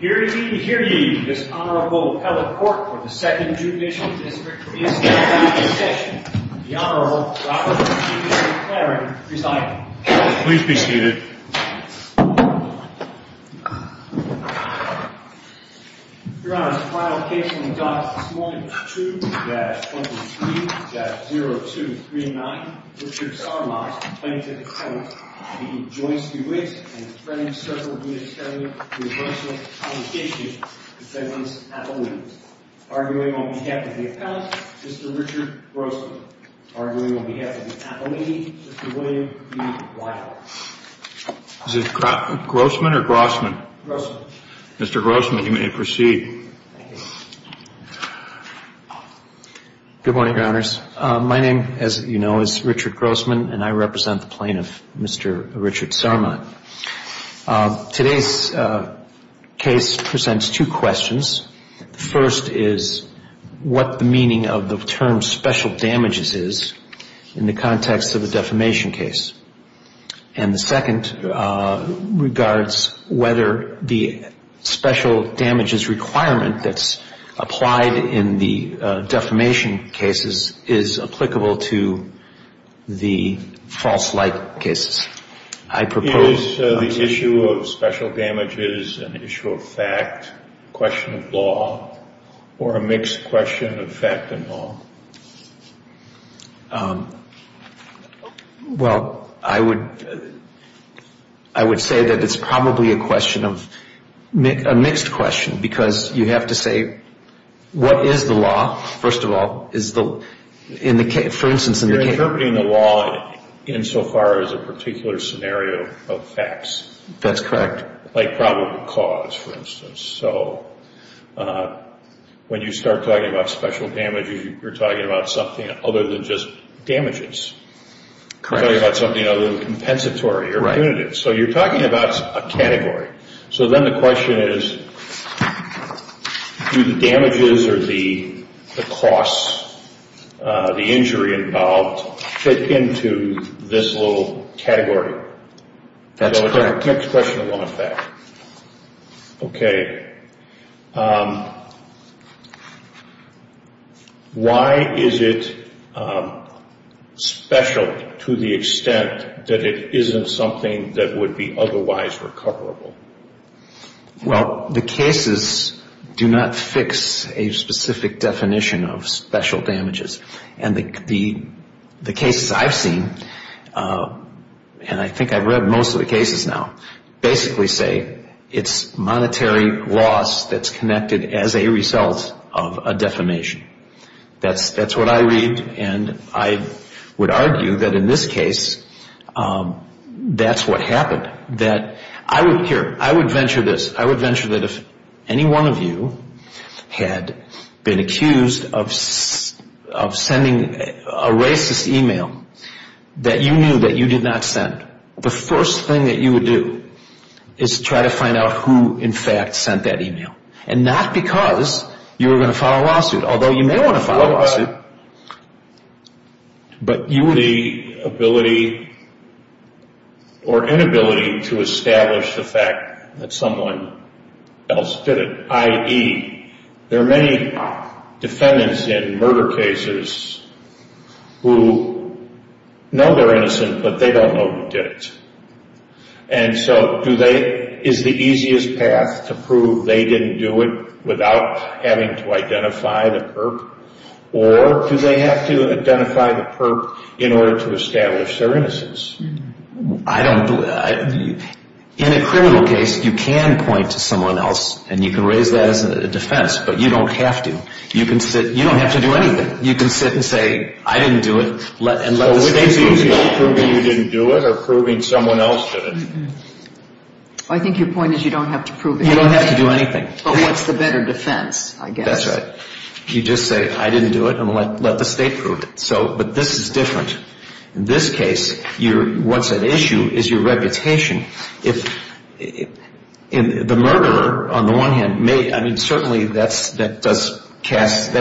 Hear ye, hear ye, this Honorable Appellate Court for the Second Judicial District is now in session. The Honorable Robert J. McLaren presiding. Please be seated. Your Honor, the final case on the docket this morning was 2-23-0239, Richard Sarmont, plaintiff's attorney, v. Joyce DeWitt and his friends circled me as telling me to approach him on the issue. I said once, Appellate. Arguing on behalf of the Appellate, Mr. Richard Grossman. Arguing on behalf of the Appellatee, Mr. William B. Whitehall. Is it Grossman or Grossman? Grossman. Mr. Grossman, you may proceed. Thank you. Good morning, Your Honors. My name, as you know, is Richard Grossman and I represent the plaintiff, Mr. Richard Sarmont. Today's case presents two questions. The first is what the meaning of the term special damages is in the context of a defamation case. And the second regards whether the special damages requirement that's applied in the defamation cases is applicable to the false light cases. Is the issue of special damages an issue of fact, question of law, or a mixed question of fact and law? Well, I would say that it's probably a question of a mixed question because you have to say what is the law, first of all. You're interpreting the law insofar as a particular scenario of facts. That's correct. Like probable cause, for instance. So when you start talking about special damages, you're talking about something other than just damages. Correct. You're talking about something other than compensatory or punitive. So you're talking about a category. So then the question is do the damages or the costs, the injury involved, fit into this little category? That's correct. Next question along with that. Okay. Why is it special to the extent that it isn't something that would be otherwise recoverable? Well, the cases do not fix a specific definition of special damages. And the cases I've seen, and I think I've read most of the cases now, basically say it's monetary loss that's connected as a result of a defamation. That's what I read, and I would argue that in this case, that's what happened. Here, I would venture this. I would venture that if any one of you had been accused of sending a racist email that you knew that you did not send, the first thing that you would do is try to find out who, in fact, sent that email. And not because you were going to file a lawsuit, although you may want to file a lawsuit. But you would be inability to establish the fact that someone else did it. I.e., there are many defendants in murder cases who know they're innocent, but they don't know who did it. And so is the easiest path to prove they didn't do it without having to identify the perp? Or do they have to identify the perp in order to establish their innocence? In a criminal case, you can point to someone else, and you can raise that as a defense, but you don't have to. You don't have to do anything. You can sit and say, I didn't do it, and let the state prove it. So we're basically proving you didn't do it or proving someone else did it. I think your point is you don't have to prove it. You don't have to do anything. But what's the better defense, I guess? That's right. You just say, I didn't do it, and let the state prove it. But this is different. In this case, what's at issue is your reputation. The murderer, on the one hand, certainly that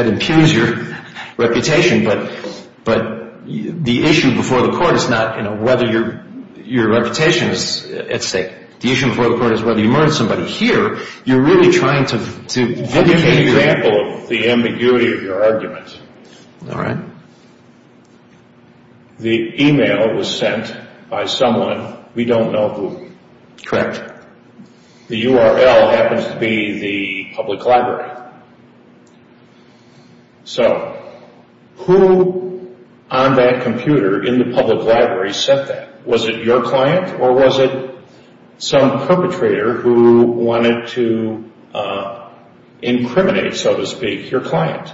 impugns your reputation. But the issue before the court is not whether your reputation is at stake. The issue before the court is whether you murdered somebody. But here, you're really trying to vindicate yourself. Let me give you an example of the ambiguity of your argument. All right. The e-mail was sent by someone we don't know who. Correct. The URL happens to be the public library. So who on that computer in the public library sent that? Was it your client or was it some perpetrator who wanted to incriminate, so to speak, your client?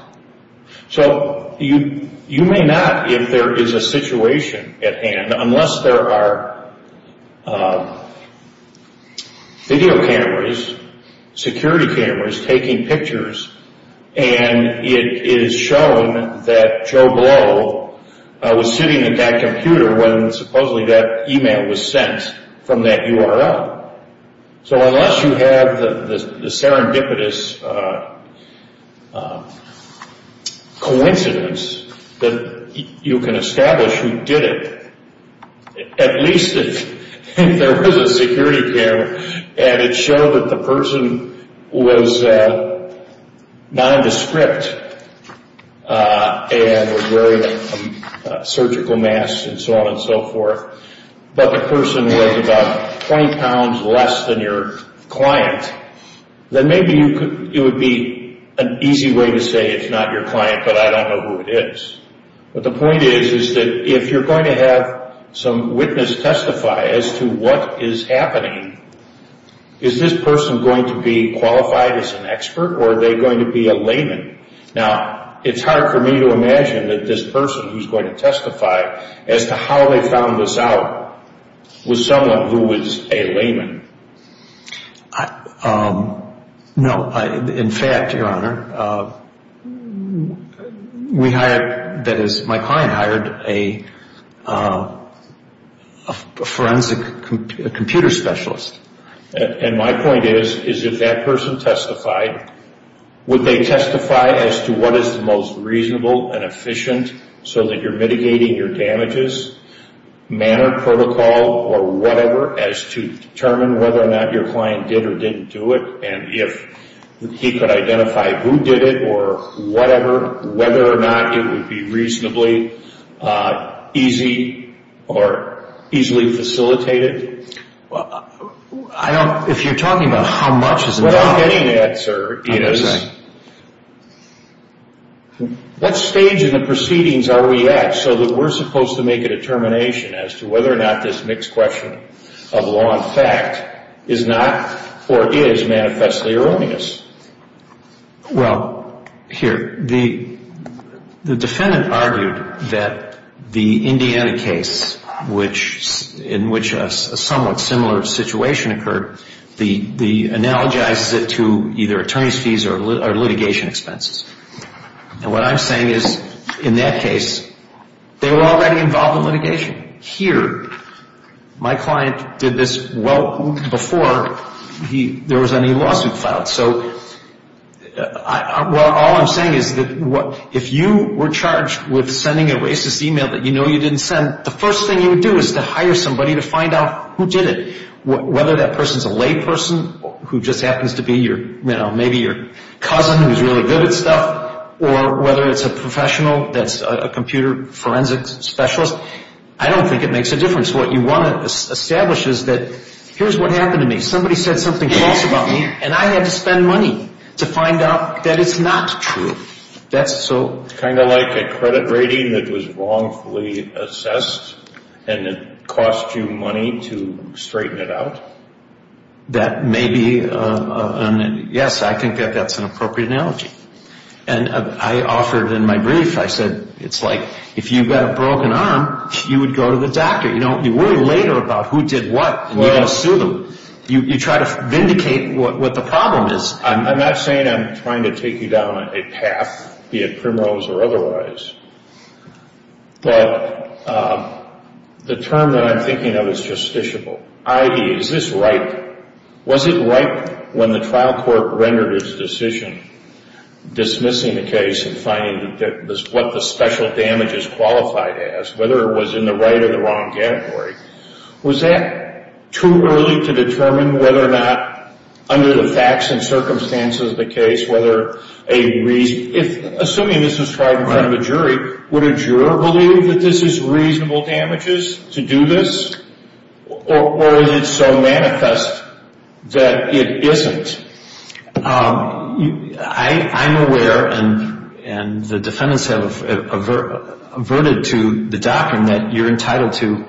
So you may not, if there is a situation at hand, unless there are video cameras, security cameras taking pictures, and it is shown that Joe Blow was sitting at that computer when supposedly that e-mail was sent from that URL. So unless you have the serendipitous coincidence that you can establish who did it, at least if there was a security camera and it showed that the person was nondescript and was wearing a surgical mask and so on and so forth, but the person was about 20 pounds less than your client, then maybe it would be an easy way to say it's not your client, but I don't know who it is. But the point is that if you're going to have some witness testify as to what is happening, is this person going to be qualified as an expert or are they going to be a layman? Now, it's hard for me to imagine that this person who's going to testify as to how they found this out was someone who was a layman. No, in fact, Your Honor, we hired, that is my client hired a forensic computer specialist. And my point is, is if that person testified, would they testify as to what is the most reasonable and efficient so that you're mitigating your damages, manner, protocol, or whatever, as to determine whether or not your client did or didn't do it, and if he could identify who did it or whatever, whether or not it would be reasonably easy or easily facilitated? I don't, if you're talking about how much is enough. What I'm getting at, sir, is what stage in the proceedings are we at so that we're supposed to make a determination as to whether or not this mixed question of law and fact is not or is manifestly erroneous? Well, here, the defendant argued that the Indiana case, in which a somewhat similar situation occurred, analogizes it to either attorney's fees or litigation expenses. And what I'm saying is, in that case, they were already involved in litigation. Here, my client did this well before there was any lawsuit filed. So all I'm saying is that if you were charged with sending a racist email that you know you didn't send, the first thing you would do is to hire somebody to find out who did it, whether that person's a layperson who just happens to be your, you know, maybe your cousin who's really good at stuff, or whether it's a professional that's a computer forensic specialist. I don't think it makes a difference. What you want to establish is that here's what happened to me. Somebody said something false about me, and I had to spend money to find out that it's not true. Kind of like a credit rating that was wrongfully assessed, and it cost you money to straighten it out? That may be, yes, I think that that's an appropriate analogy. And I offered in my brief, I said, it's like, if you've got a broken arm, you would go to the doctor. You worry later about who did what, and you're going to sue them. You try to vindicate what the problem is. I'm not saying I'm trying to take you down a path, be it primrose or otherwise, but the term that I'm thinking of is justiciable. I.D., is this right? Was it right when the trial court rendered its decision dismissing the case and finding what the special damage is qualified as, whether it was in the right or the wrong category? Was that too early to determine whether or not, under the facts and circumstances of the case, whether a reason, assuming this was tried in front of a jury, would a juror believe that this is reasonable damages to do this? Or is it so manifest that it isn't? I'm aware, and the defendants have averted to the doctrine, that you're entitled to,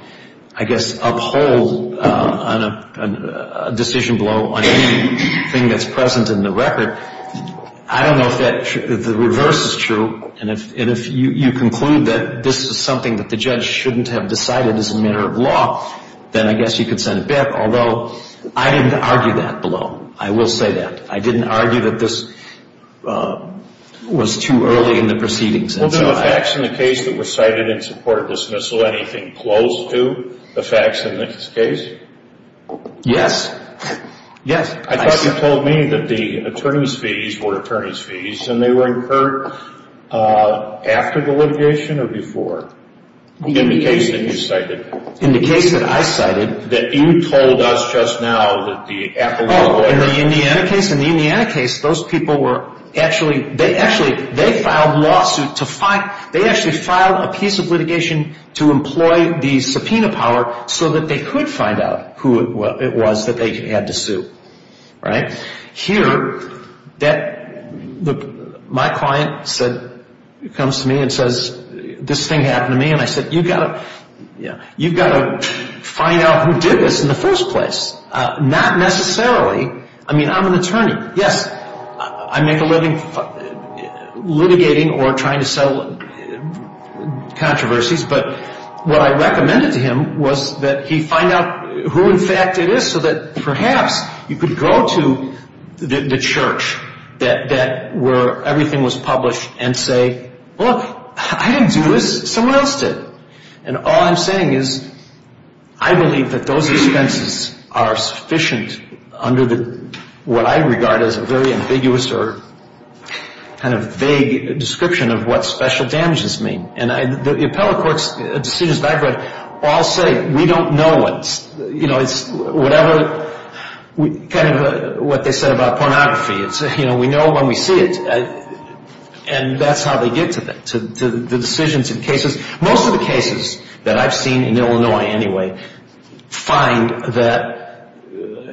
I guess, uphold a decision below on anything that's present in the record. I don't know if the reverse is true, and if you conclude that this is something that the judge shouldn't have decided is a matter of law, then I guess you could send it back, although I didn't argue that below. I will say that. I didn't argue that this was too early in the proceedings. Well, then, the facts in the case that were cited in support of dismissal, anything close to the facts in this case? Yes. Yes. I thought you told me that the attorney's fees were attorney's fees, and they were incurred after the litigation or before? In the case that you cited. In the case that I cited. That you told us just now that the appellate lawyer. Oh, in the Indiana case? In the Indiana case, those people were actually, they actually, they filed lawsuit to find, they actually filed a piece of litigation to employ the subpoena power so that they could find out who it was that they had to sue. Right? Here, my client comes to me and says, this thing happened to me, and I said, you've got to find out who did this in the first place. Not necessarily, I mean, I'm an attorney. Yes, I make a living litigating or trying to settle controversies, but what I recommended to him was that he find out who in fact it is so that perhaps you could go to the church where everything was published and say, look, I didn't do this. Someone else did. And all I'm saying is I believe that those expenses are sufficient under what I regard as a very ambiguous or kind of vague description of what special damages mean. And the appellate court's decisions background all say we don't know it. You know, it's whatever, kind of what they said about pornography. You know, we know when we see it, and that's how they get to the decisions in cases. Most of the cases that I've seen in Illinois anyway find that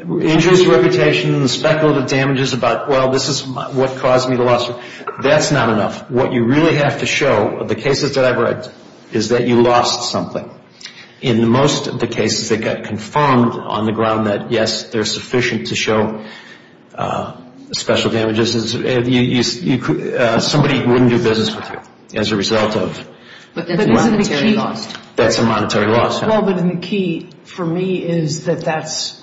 injuries to reputation, speculative damages about, well, this is what caused me the loss, that's not enough. What you really have to show, the cases that I've read, is that you lost something. In most of the cases that got confirmed on the ground that, yes, they're sufficient to show special damages, somebody wouldn't do business with you as a result of the monetary loss. Well, but the key for me is that that's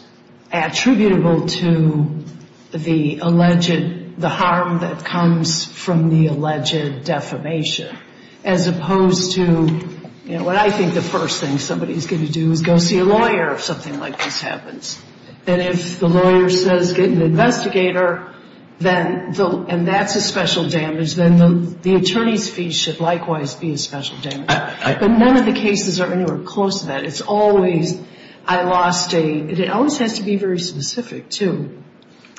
attributable to the alleged, the harm that comes from the alleged defamation as opposed to, you know, that I think the first thing somebody's going to do is go see a lawyer if something like this happens. And if the lawyer says get an investigator, and that's a special damage, then the attorney's fee should likewise be a special damage. But none of the cases are anywhere close to that. It's always, I lost a, it always has to be very specific, too.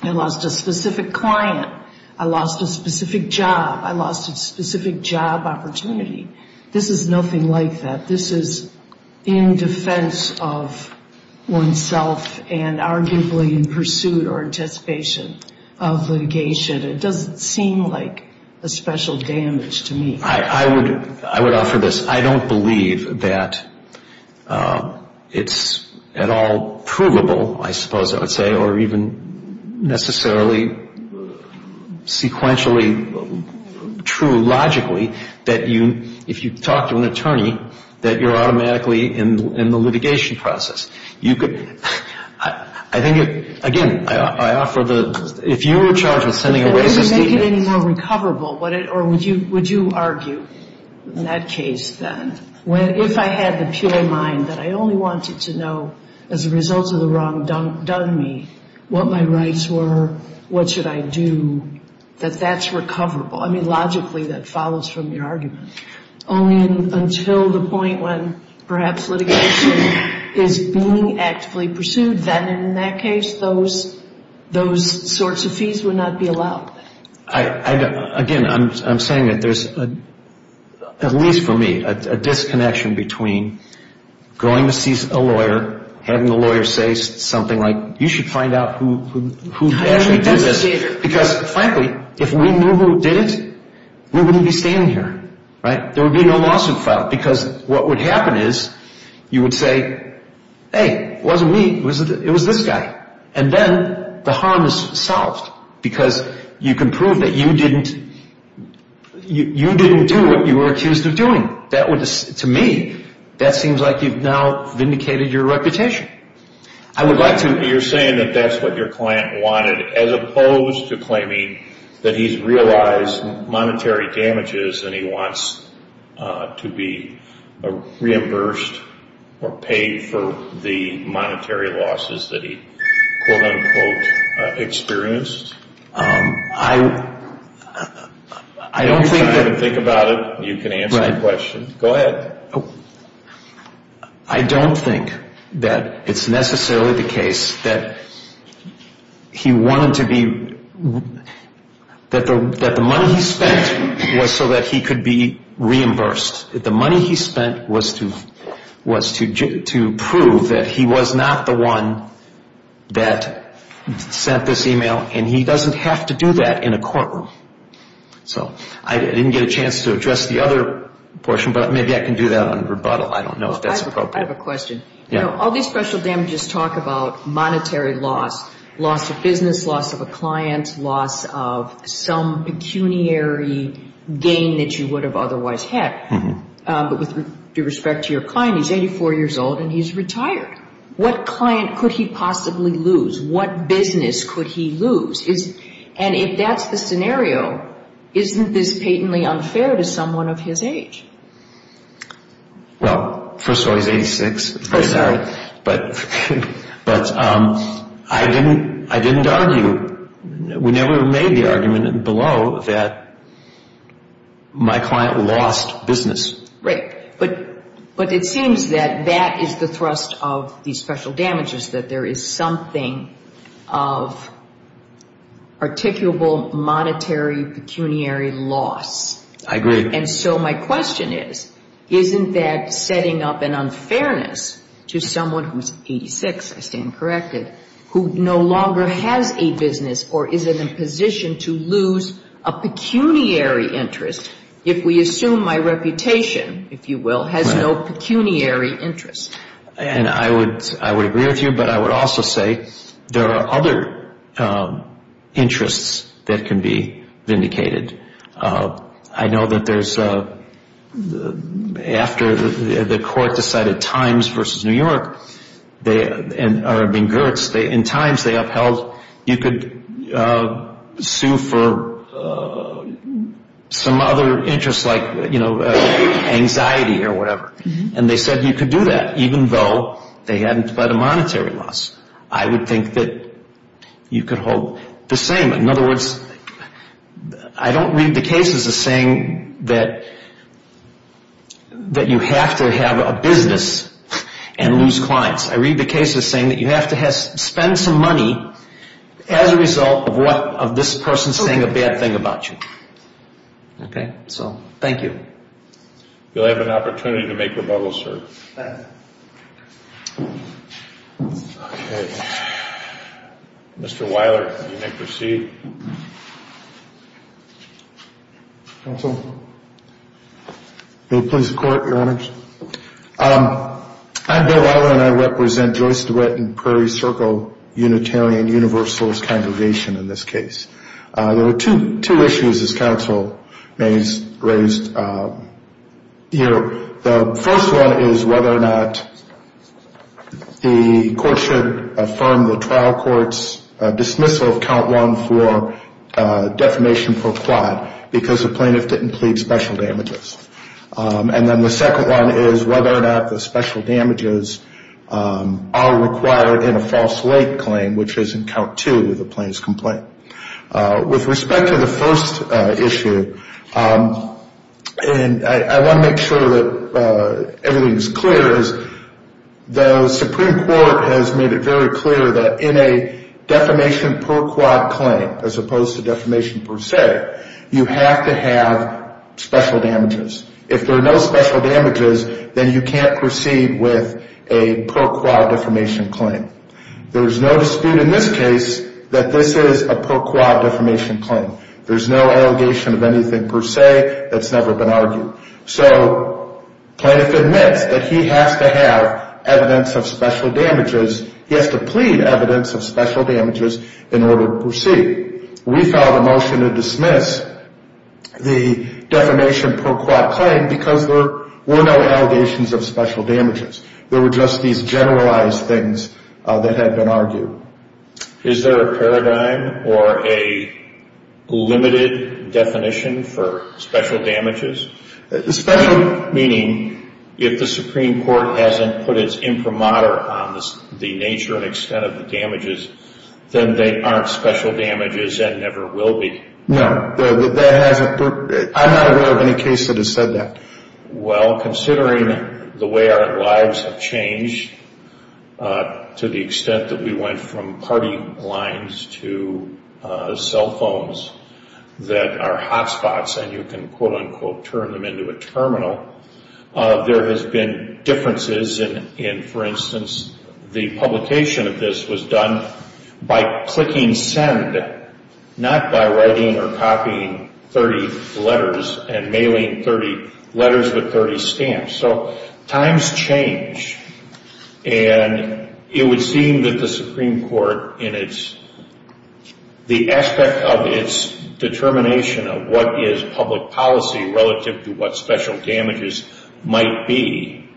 I lost a specific client. I lost a specific job. I lost a specific job opportunity. This is nothing like that. This is in defense of oneself and arguably in pursuit or anticipation of litigation. It doesn't seem like a special damage to me. I would offer this. I don't believe that it's at all provable, I suppose I would say, or even necessarily sequentially true logically that you, if you talk to an attorney, that you're automatically in the litigation process. You could, I think, again, I offer the, if you were charged with sending a racist email. But would it make it any more recoverable, or would you argue in that case then, if I had the pure mind that I only wanted to know as a result of the wrong done me what my rights were, what should I do, that that's recoverable? I mean, logically that follows from your argument. Only until the point when perhaps litigation is being actively pursued, then in that case those sorts of fees would not be allowed. Again, I'm saying that there's, at least for me, a disconnection between going to see a lawyer, having the lawyer say something like, you should find out who actually did this. Because, frankly, if we knew who did it, we wouldn't be standing here. There would be no lawsuit filed. Because what would happen is you would say, hey, it wasn't me, it was this guy. And then the harm is solved. Because you can prove that you didn't do what you were accused of doing. That would, to me, that seems like you've now vindicated your reputation. I would like to... You're saying that that's what your client wanted, as opposed to claiming that he's realized monetary damages and he wants to be reimbursed or paid for the monetary losses that he, quote-unquote, experienced? I don't think that... If you haven't thought about it, you can answer the question. Go ahead. I don't think that it's necessarily the case that he wanted to be... That the money he spent was so that he could be reimbursed. The money he spent was to prove that he was not the one that sent this email. And he doesn't have to do that in a courtroom. So I didn't get a chance to address the other portion, but maybe I can do that on rebuttal. I don't know if that's appropriate. I have a question. All these special damages talk about monetary loss. Loss of business, loss of a client, loss of some pecuniary gain that you would have otherwise had. But with respect to your client, he's 84 years old and he's retired. What client could he possibly lose? What business could he lose? And if that's the scenario, isn't this patently unfair to someone of his age? Well, first of all, he's 86. But I didn't argue. We never made the argument below that my client lost business. Right. But it seems that that is the thrust of these special damages, that there is something of articulable monetary pecuniary loss. I agree. And so my question is, isn't that setting up an unfairness to someone who's 86, I stand corrected, who no longer has a business or is in a position to lose a pecuniary interest, if we assume my reputation, if you will, has no pecuniary interest? And I would agree with you, but I would also say there are other interests that can be vindicated. I know that there's after the court decided Times v. New York, or I mean Gertz, in Times they upheld you could sue for some other interest like, you know, anxiety or whatever. And they said you could do that even though they hadn't fled a monetary loss. I would think that you could hold the same. In other words, I don't read the case as saying that you have to have a business and lose clients. I read the case as saying that you have to spend some money as a result of this person saying a bad thing about you. Okay? So thank you. You'll have an opportunity to make rebuttals, sir. Thank you. Okay. Mr. Weiler, you may proceed. Counsel, may it please the Court, your honor? I'm Bill Weiler and I represent Joyce DeWitt and Prairie Circle Unitarian Universalist Congregation in this case. There are two issues this counsel may have raised here. The first one is whether or not the court should affirm the trial court's dismissal of count one for defamation for fraud because the plaintiff didn't plead special damages. And then the second one is whether or not the special damages are required in a false late claim, which is in count two of the plaintiff's complaint. With respect to the first issue, and I want to make sure that everything is clear, is the Supreme Court has made it very clear that in a defamation per quad claim, as opposed to defamation per se, you have to have special damages. If there are no special damages, then you can't proceed with a per quad defamation claim. There's no dispute in this case that this is a per quad defamation claim. There's no allegation of anything per se that's never been argued. So plaintiff admits that he has to have evidence of special damages. He has to plead evidence of special damages in order to proceed. We filed a motion to dismiss the defamation per quad claim because there were no allegations of special damages. There were just these generalized things that had been argued. Is there a paradigm or a limited definition for special damages? Special meaning if the Supreme Court hasn't put its imprimatur on the nature and extent of the damages, then they aren't special damages and never will be. No, that hasn't. I'm not aware of any case that has said that. Well, considering the way our lives have changed to the extent that we went from party lines to cell phones that are hotspots and you can, quote, unquote, turn them into a terminal, there has been differences in, for instance, the publication of this was done by clicking send, not by writing or copying 30 letters and mailing 30 letters with 30 stamps. So times change. And it would seem that the Supreme Court in its, the aspect of its determination of what is public policy relative to what special damages might be,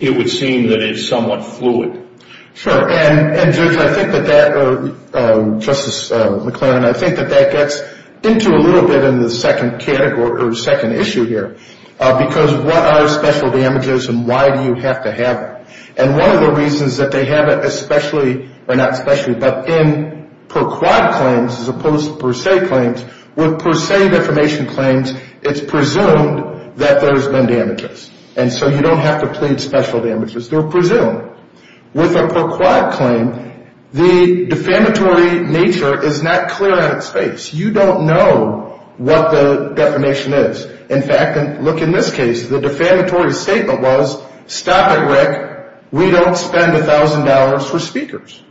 it would seem that it's somewhat fluid. Sure. And, Judge, I think that that, Justice McLaren, I think that that gets into a little bit in the second issue here, because what are special damages and why do you have to have it? And one of the reasons that they have it especially, or not especially, but in per quad claims as opposed to per se claims, with per se defamation claims, it's presumed that there's been damages. And so you don't have to plead special damages. They're presumed. With a per quad claim, the defamatory nature is not clear out of space. You don't know what the defamation is. In fact, look in this case, the defamatory statement was, stop it, Rick. We don't spend $1,000 for speakers.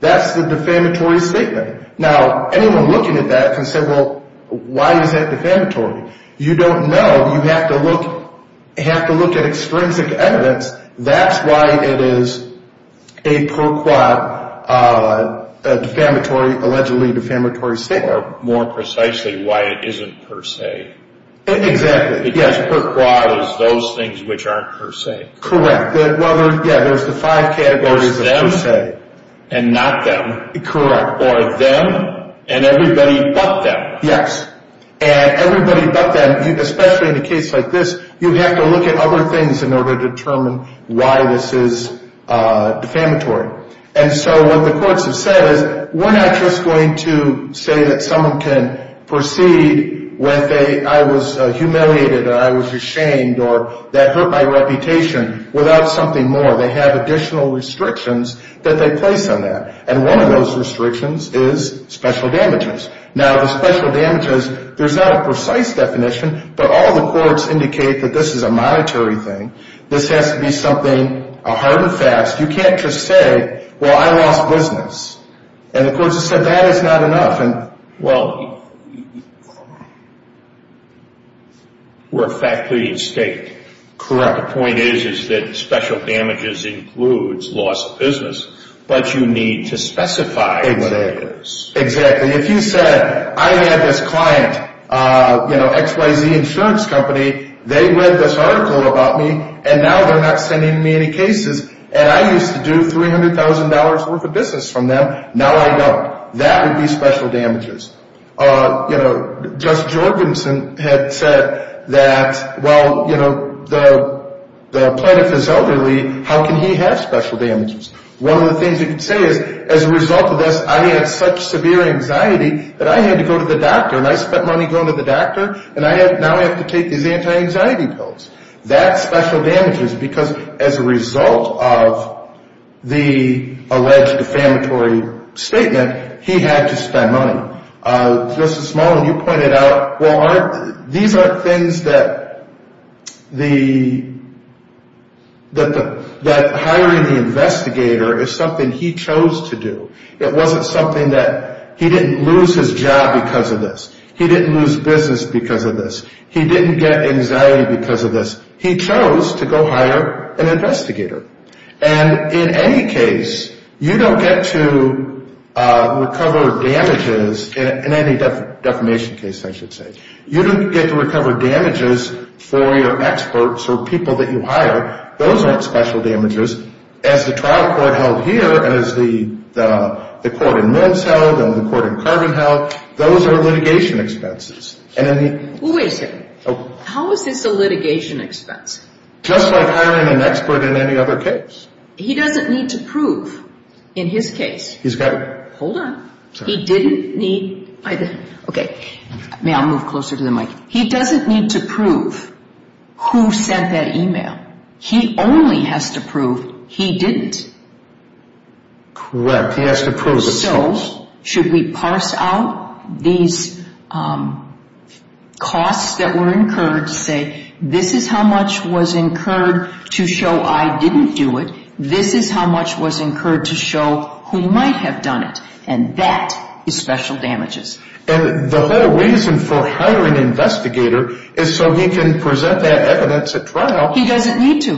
That's the defamatory statement. Now, anyone looking at that can say, well, why is that defamatory? You don't know. You have to look at extrinsic evidence. That's why it is a per quad defamatory, allegedly defamatory statement. Or more precisely, why it isn't per se. Exactly. Because per quad is those things which aren't per se. Correct. Yeah, there's the five categories of per se. There's them and not them. Correct. Or them and everybody but them. Yes. And everybody but them, especially in a case like this, you have to look at other things in order to determine why this is defamatory. And so what the courts have said is, we're not just going to say that someone can proceed with a I was humiliated or I was ashamed or that hurt my reputation without something more. They have additional restrictions that they place on that. And one of those restrictions is special damages. Now, the special damages, there's not a precise definition, but all the courts indicate that this is a monetary thing. This has to be something a hard and fast. You can't just say, well, I lost business. And the courts have said that is not enough. Well, we're fact leading state. Correct. The point is that special damages includes loss of business, but you need to specify exactly. Exactly. If you said, I had this client, XYZ Insurance Company, they read this article about me, and now they're not sending me any cases. And I used to do $300,000 worth of business from them. Now I don't. That would be special damages. Just Jorgensen had said that, well, the plaintiff is elderly. How can he have special damages? One of the things he could say is, as a result of this, I had such severe anxiety that I had to go to the doctor, and I spent money going to the doctor, and now I have to take these anti-anxiety pills. That's special damages because, as a result of the alleged defamatory statement, he had to spend money. Just a small one. You pointed out, well, these aren't things that hiring the investigator is something he chose to do. It wasn't something that he didn't lose his job because of this. He didn't lose business because of this. He didn't get anxiety because of this. He chose to go hire an investigator. In any case, you don't get to recover damages in any defamation case, I should say. You don't get to recover damages for your experts or people that you hire. Those aren't special damages. As the trial court held here and as the court in Mince held and the court in Carbon held, those are litigation expenses. Wait a second. How is this a litigation expense? Just like hiring an expert in any other case. He doesn't need to prove in his case. He's got to. Hold on. He didn't need either. Okay. May I move closer to the mic? He doesn't need to prove who sent that email. He only has to prove he didn't. Correct. He has to prove the source. Should we parse out these costs that were incurred to say, this is how much was incurred to show I didn't do it. This is how much was incurred to show who might have done it. And that is special damages. And the whole reason for hiring an investigator is so he can present that evidence at trial. He doesn't need to.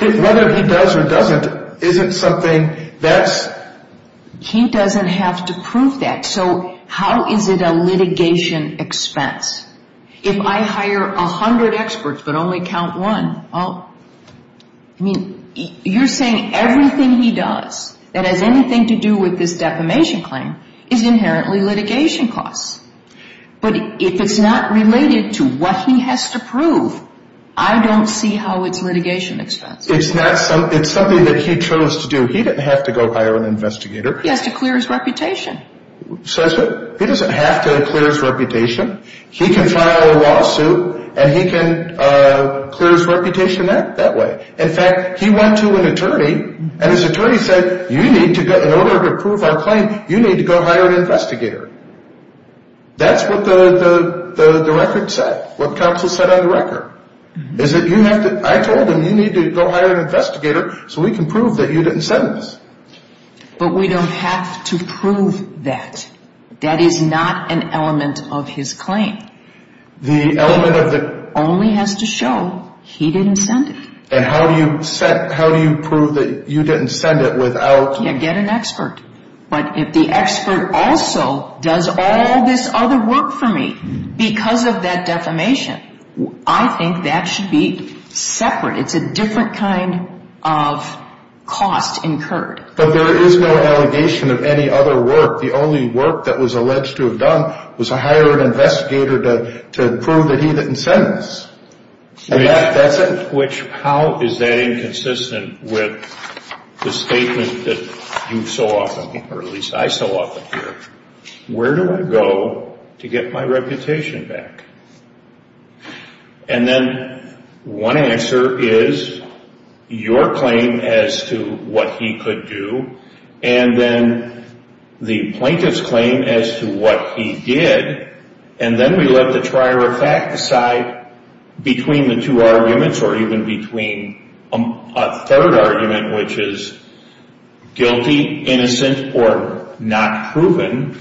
Whether he does or doesn't isn't something that's – he doesn't have to prove that. So how is it a litigation expense? If I hire 100 experts but only count one, I mean, you're saying everything he does that has anything to do with this defamation claim is inherently litigation costs. But if it's not related to what he has to prove, I don't see how it's litigation expense. It's something that he chose to do. He didn't have to go hire an investigator. He has to clear his reputation. He doesn't have to clear his reputation. He can file a lawsuit and he can clear his reputation that way. In fact, he went to an attorney and his attorney said, in order to prove our claim, you need to go hire an investigator. That's what the record said, what counsel said on the record, is that you have to – I told him you need to go hire an investigator so we can prove that you didn't send this. But we don't have to prove that. That is not an element of his claim. The element of the – Only has to show he didn't send it. And how do you set – how do you prove that you didn't send it without – Yeah, get an expert. But if the expert also does all this other work for me because of that defamation, I think that should be separate. It's a different kind of cost incurred. But there is no allegation of any other work. The only work that was alleged to have done was to hire an investigator to prove that he didn't send this. And that doesn't – Which, how is that inconsistent with the statement that you so often, or at least I so often hear, where do I go to get my reputation back? And then one answer is your claim as to what he could do and then the plaintiff's claim as to what he did. And then we let the trier of fact decide between the two arguments or even between a third argument, which is guilty, innocent, or not proven.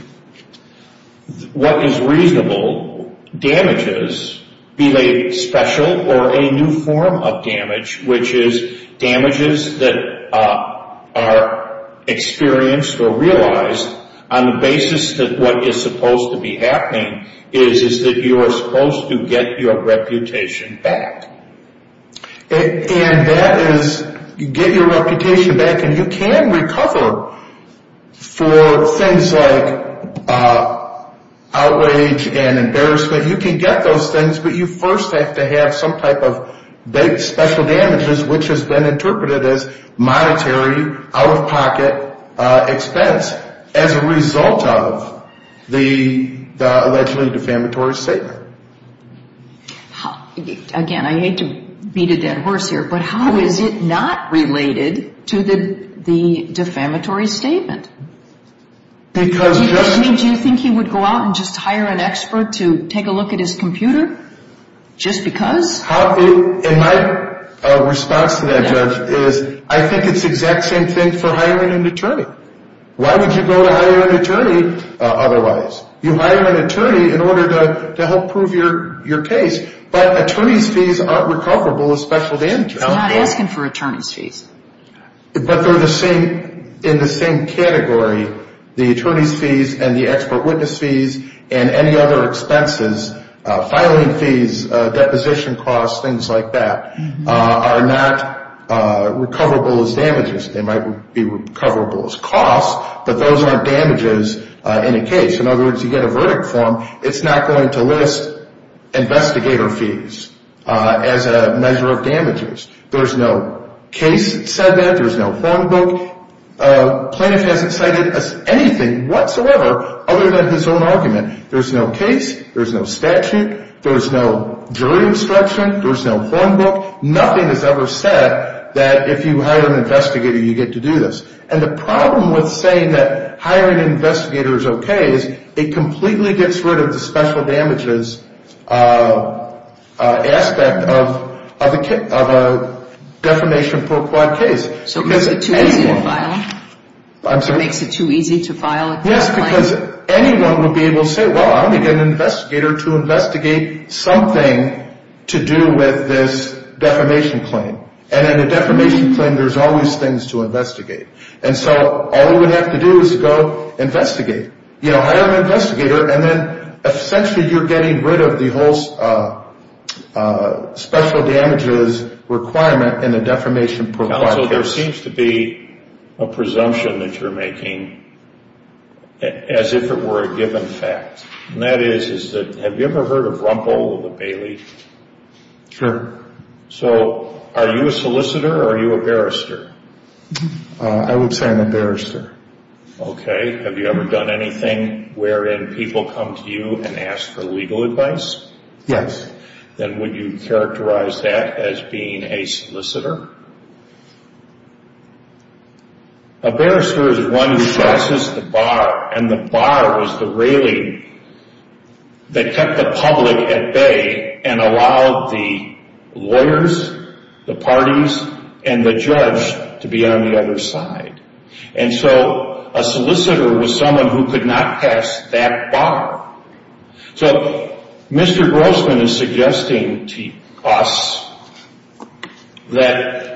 What is reasonable damages, be they special or a new form of damage, which is damages that are experienced or realized on the basis that what is supposed to be happening is that you are supposed to get your reputation back. And that is you get your reputation back and you can recover for things like outrage and embarrassment. You can get those things, but you first have to have some type of special damages, which has been interpreted as monetary, out-of-pocket expense as a result of the allegedly defamatory statement. Again, I hate to beat a dead horse here, but how is it not related to the defamatory statement? Do you think he would go out and just hire an expert to take a look at his computer just because? My response to that, Judge, is I think it's the exact same thing for hiring an attorney. Why would you go to hire an attorney otherwise? You hire an attorney in order to help prove your case, but attorney's fees aren't recoverable as special damages. He's not asking for attorney's fees. But they're in the same category, the attorney's fees and the expert witness fees and any other expenses, filing fees, deposition costs, things like that, are not recoverable as damages. They might be recoverable as costs, but those aren't damages in a case. In other words, you get a verdict form. It's not going to list investigator fees as a measure of damages. There's no case that said that. There's no form book. Plaintiff hasn't cited anything whatsoever other than his own argument. There's no case. There's no statute. There's no jury instruction. There's no form book. Nothing is ever said that if you hire an investigator, you get to do this. And the problem with saying that hiring an investigator is okay is it completely gets rid of the special damages aspect of a defamation pro quad case. So it makes it too easy to file? I'm sorry? It makes it too easy to file a claim? Yes, because anyone would be able to say, well, I'm going to get an investigator to investigate something to do with this defamation claim. And in a defamation claim, there's always things to investigate. And so all you would have to do is go investigate. You know, hire an investigator, and then essentially you're getting rid of the whole special damages requirement in a defamation pro quad case. Counsel, there seems to be a presumption that you're making as if it were a given fact. And that is, is that have you ever heard of Rumpel or the Bailey? Sure. So are you a solicitor or are you a barrister? I would say I'm a barrister. Okay. Have you ever done anything wherein people come to you and ask for legal advice? Yes. Then would you characterize that as being a solicitor? A barrister is one who passes the bar, and the bar was the railing that kept the public at bay and allowed the lawyers, the parties, and the judge to be on the other side. And so a solicitor was someone who could not pass that bar. So Mr. Grossman is suggesting to us that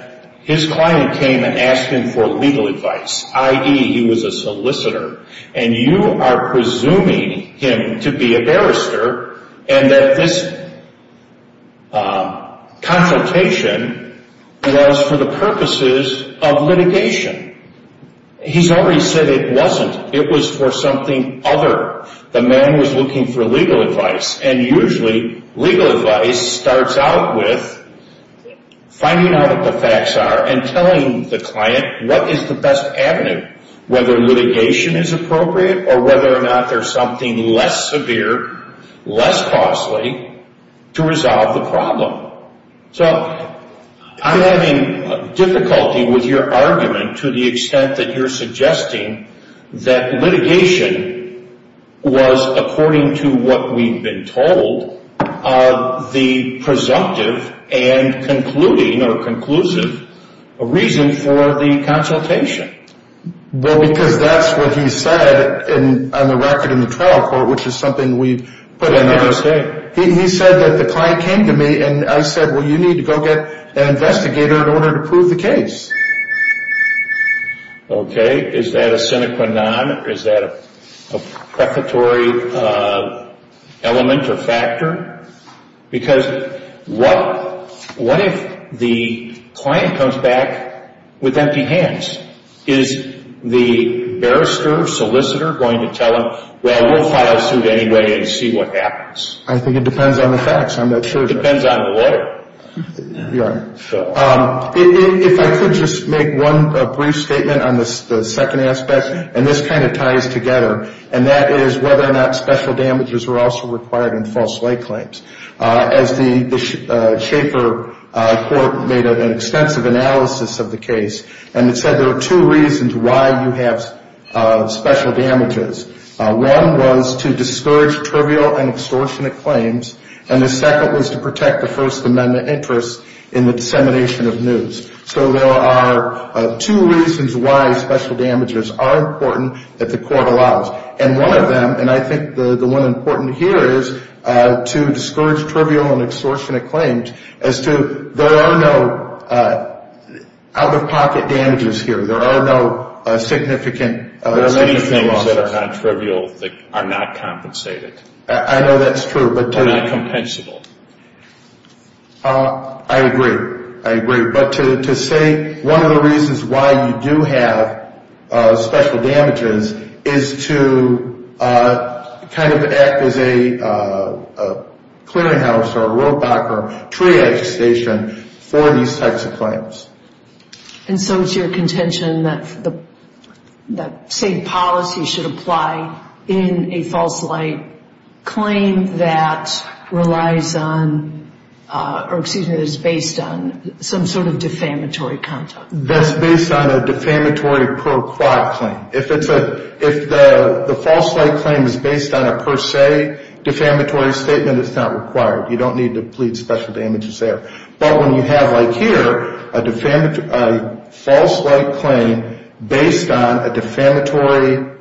his client came and asked him for legal advice, i.e., he was a solicitor, and you are presuming him to be a barrister and that this consultation was for the purposes of litigation. He's already said it wasn't. It was for something other. The man was looking for legal advice, and usually legal advice starts out with finding out what the facts are and telling the client what is the best avenue, whether litigation is appropriate or whether or not there's something less severe, less costly, to resolve the problem. So I'm having difficulty with your argument to the extent that you're suggesting that litigation was, according to what we've been told, the presumptive and concluding or conclusive reason for the consultation. Well, because that's what he said on the record in the trial court, which is something we put in our state. He said that the client came to me and I said, well, you need to go get an investigator in order to prove the case. Okay. Is that a sine qua non? Is that a prefatory element or factor? Because what if the client comes back with empty hands? Is the barrister, solicitor going to tell him, well, we'll file a suit anyway and see what happens? I think it depends on the facts. I'm not sure. It depends on the water. You're right. If I could just make one brief statement on the second aspect, and this kind of ties together, and that is whether or not special damages were also required in false lay claims. As the Shaker Court made an extensive analysis of the case, and it said there are two reasons why you have special damages. And the second was to protect the First Amendment interest in the dissemination of news. So there are two reasons why special damages are important that the court allows. And one of them, and I think the one important here, is to discourage trivial and extortionate claims as to there are no out-of-pocket damages here. There are no significant losses. There are many things that are not trivial that are not compensated. I know that's true. They're not compensable. I agree. I agree. But to say one of the reasons why you do have special damages is to kind of act as a clearinghouse or a road block or a triage station for these types of claims. And so it's your contention that the same policy should apply in a false lay claim that relies on or, excuse me, that is based on some sort of defamatory content. That's based on a defamatory per quote claim. If the false lay claim is based on a per se defamatory statement, it's not required. You don't need to plead special damages there. But when you have, like here, a false lay claim based on a defamatory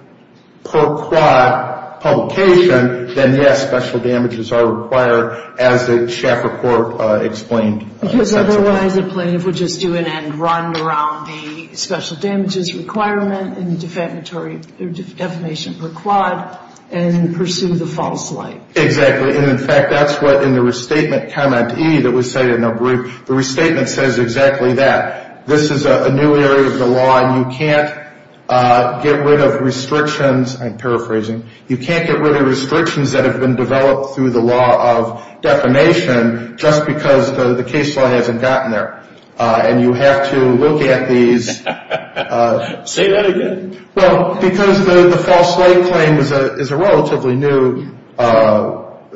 per quote publication, then, yes, special damages are required as the CHAP report explained. Because otherwise the plaintiff would just do an end run around the special damages requirement and defamation per quote and pursue the false lay. Exactly. And, in fact, that's what in the restatement comment E that was cited in the brief. The restatement says exactly that. This is a new area of the law, and you can't get rid of restrictions. I'm paraphrasing. You can't get rid of restrictions that have been developed through the law of defamation just because the case law hasn't gotten there. And you have to look at these. Say that again. Well, because the false lay claim is a relatively new claim.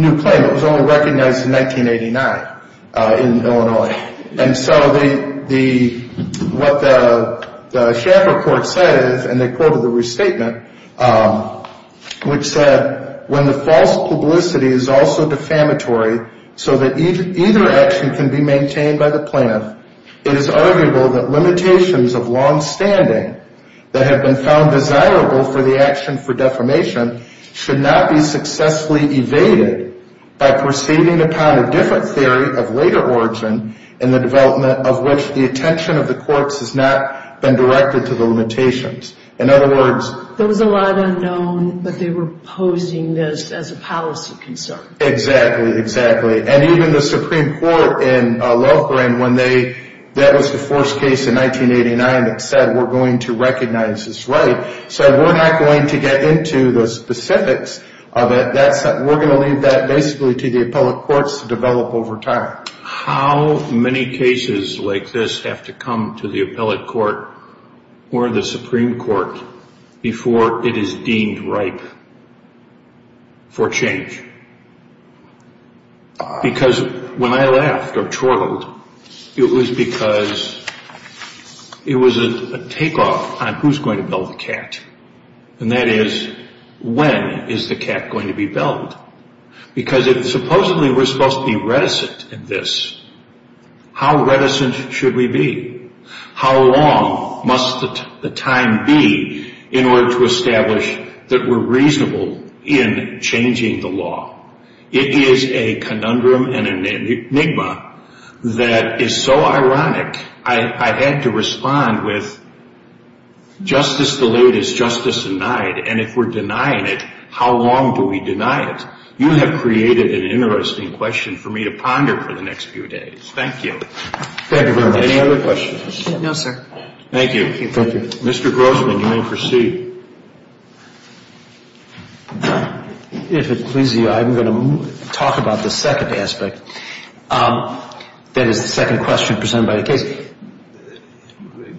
It was only recognized in 1989 in Illinois. And so what the CHAP report says, and they quoted the restatement, which said when the false publicity is also defamatory so that either action can be maintained by the plaintiff, it is arguable that limitations of longstanding that have been found desirable for the action for defamation should not be successfully evaded by proceeding upon a different theory of later origin in the development of which the attention of the courts has not been directed to the limitations. In other words. There was a lot unknown, but they were posing this as a policy concern. Exactly, exactly. And even the Supreme Court in Loughborin when they, that was the first case in 1989 that said we're going to recognize this right, said we're not going to get into the specifics of it. We're going to leave that basically to the appellate courts to develop over time. How many cases like this have to come to the appellate court or the Supreme Court before it is deemed ripe for change? Because when I laughed or chortled, it was because it was a takeoff on who's going to build the cat. And that is when is the cat going to be built? Because if supposedly we're supposed to be reticent in this, how reticent should we be? How long must the time be in order to establish that we're reasonable in changing the law? It is a conundrum and an enigma that is so ironic. I had to respond with justice delayed is justice denied. And if we're denying it, how long do we deny it? You have created an interesting question for me to ponder for the next few days. Thank you. Thank you very much. Any other questions? No, sir. Thank you. Thank you. Mr. Grossman, you may proceed. If it pleases you, I'm going to talk about the second aspect. That is the second question presented by the case.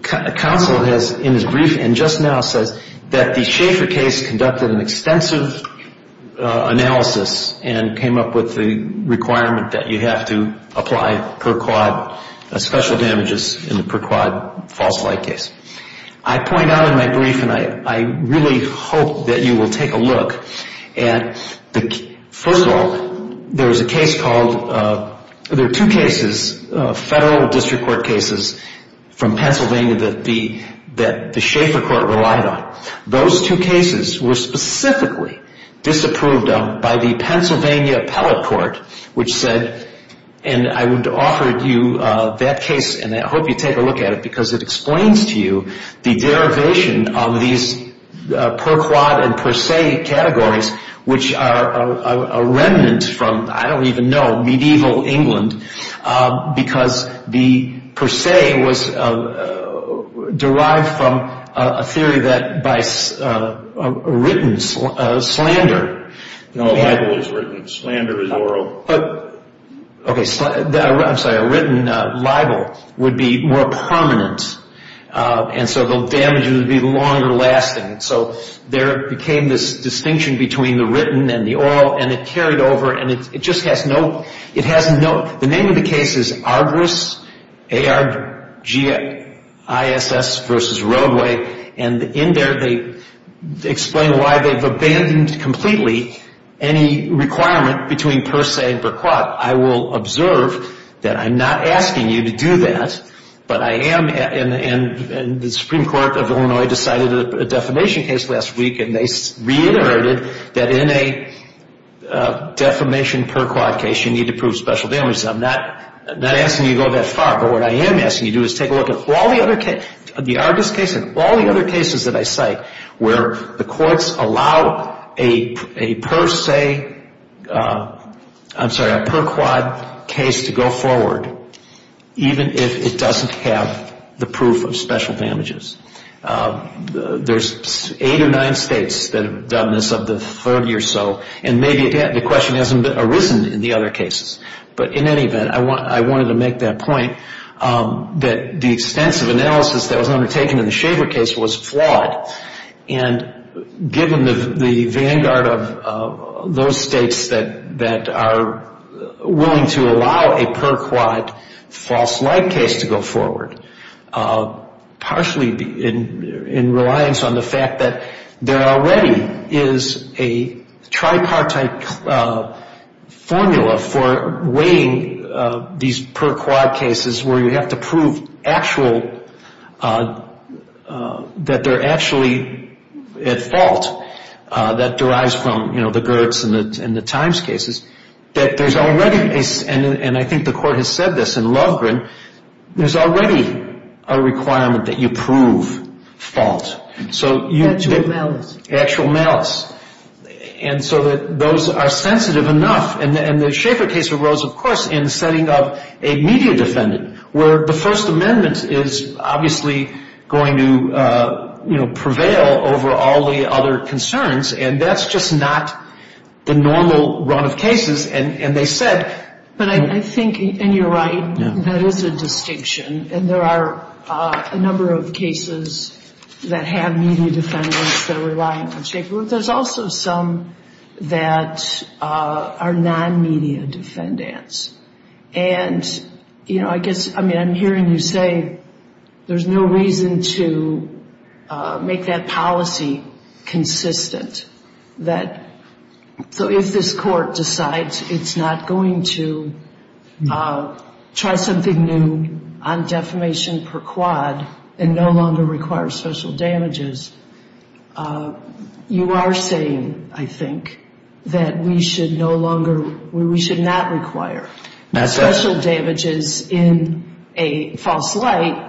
Counsel in his briefing just now says that the Schaeffer case conducted an extensive analysis and came up with the requirement that you have to apply per-quad special damages in the per-quad false light case. I point out in my brief, and I really hope that you will take a look, and first of all, there is a case called, there are two cases, federal district court cases from Pennsylvania that the Schaeffer court relied on. Those two cases were specifically disapproved of by the Pennsylvania appellate court, which said, and I would offer you that case, and I hope you take a look at it, because it explains to you the derivation of these per-quad and per-se categories, which are a remnant from, I don't even know, medieval England, because the per-se was derived from a theory that by written slander. No, libel is written, slander is oral. Okay, I'm sorry, a written libel would be more permanent, and so the damages would be longer lasting. So there became this distinction between the written and the oral, and it carried over, and it just has no, the name of the case is Argus, A-R-G-I-S-S versus Roadway, and in there they explain why they've abandoned completely any requirement between per-se and per-quad. I will observe that I'm not asking you to do that, but I am, and the Supreme Court of Illinois decided a defamation case last week, and they reiterated that in a defamation per-quad case you need to prove special damages. I'm not asking you to go that far, but what I am asking you to do is take a look at all the other cases, the Argus case and all the other cases that I cite, where the courts allow a per-se, I'm sorry, a per-quad case to go forward, even if it doesn't have the proof of special damages. There's eight or nine states that have done this of the 30 or so, and maybe the question hasn't arisen in the other cases, but in any event, I wanted to make that point, that the extensive analysis that was undertaken in the Shaver case was flawed, and given the vanguard of those states that are willing to allow a per-quad false-like case to go forward, partially in reliance on the fact that there already is a tripartite formula for weighing these per-quad cases where you have to prove actual, that they're actually at fault, that derives from, you know, the Gertz and the Times cases, that there's already, and I think the court has said this in Lovgren, there's already a requirement that you prove fault. Actual malice. Actual malice. And so that those are sensitive enough, and the Shaver case arose, of course, in the setting of a media defendant, where the First Amendment is obviously going to, you know, prevail over all the other concerns, and that's just not the normal run of cases, and they said. But I think, and you're right, that is a distinction, and there are a number of cases that have media defendants that are reliant on Shaver, but there's also some that are non-media defendants. And, you know, I guess, I mean, I'm hearing you say there's no reason to make that policy consistent, that so if this court decides it's not going to try something new on defamation per quad and no longer require special damages, you are saying, I think, that we should no longer, we should not require special damages in a false light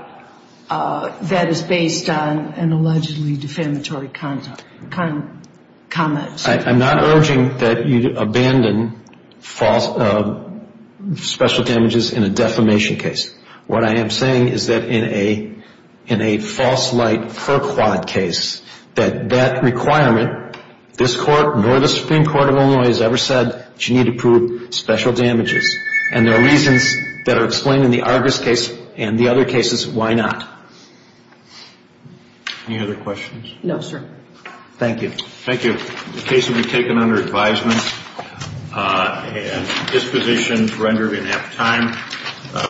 that is based on an allegedly defamatory conduct. I'm not urging that you abandon special damages in a defamation case. What I am saying is that in a false light per quad case, that that requirement, this court nor the Supreme Court of Illinois has ever said that you need to prove special damages, and there are reasons that are explained in the Argus case and the other cases why not. Any other questions? No, sir. Thank you. Thank you. The case will be taken under advisement and dispositions rendered in half time.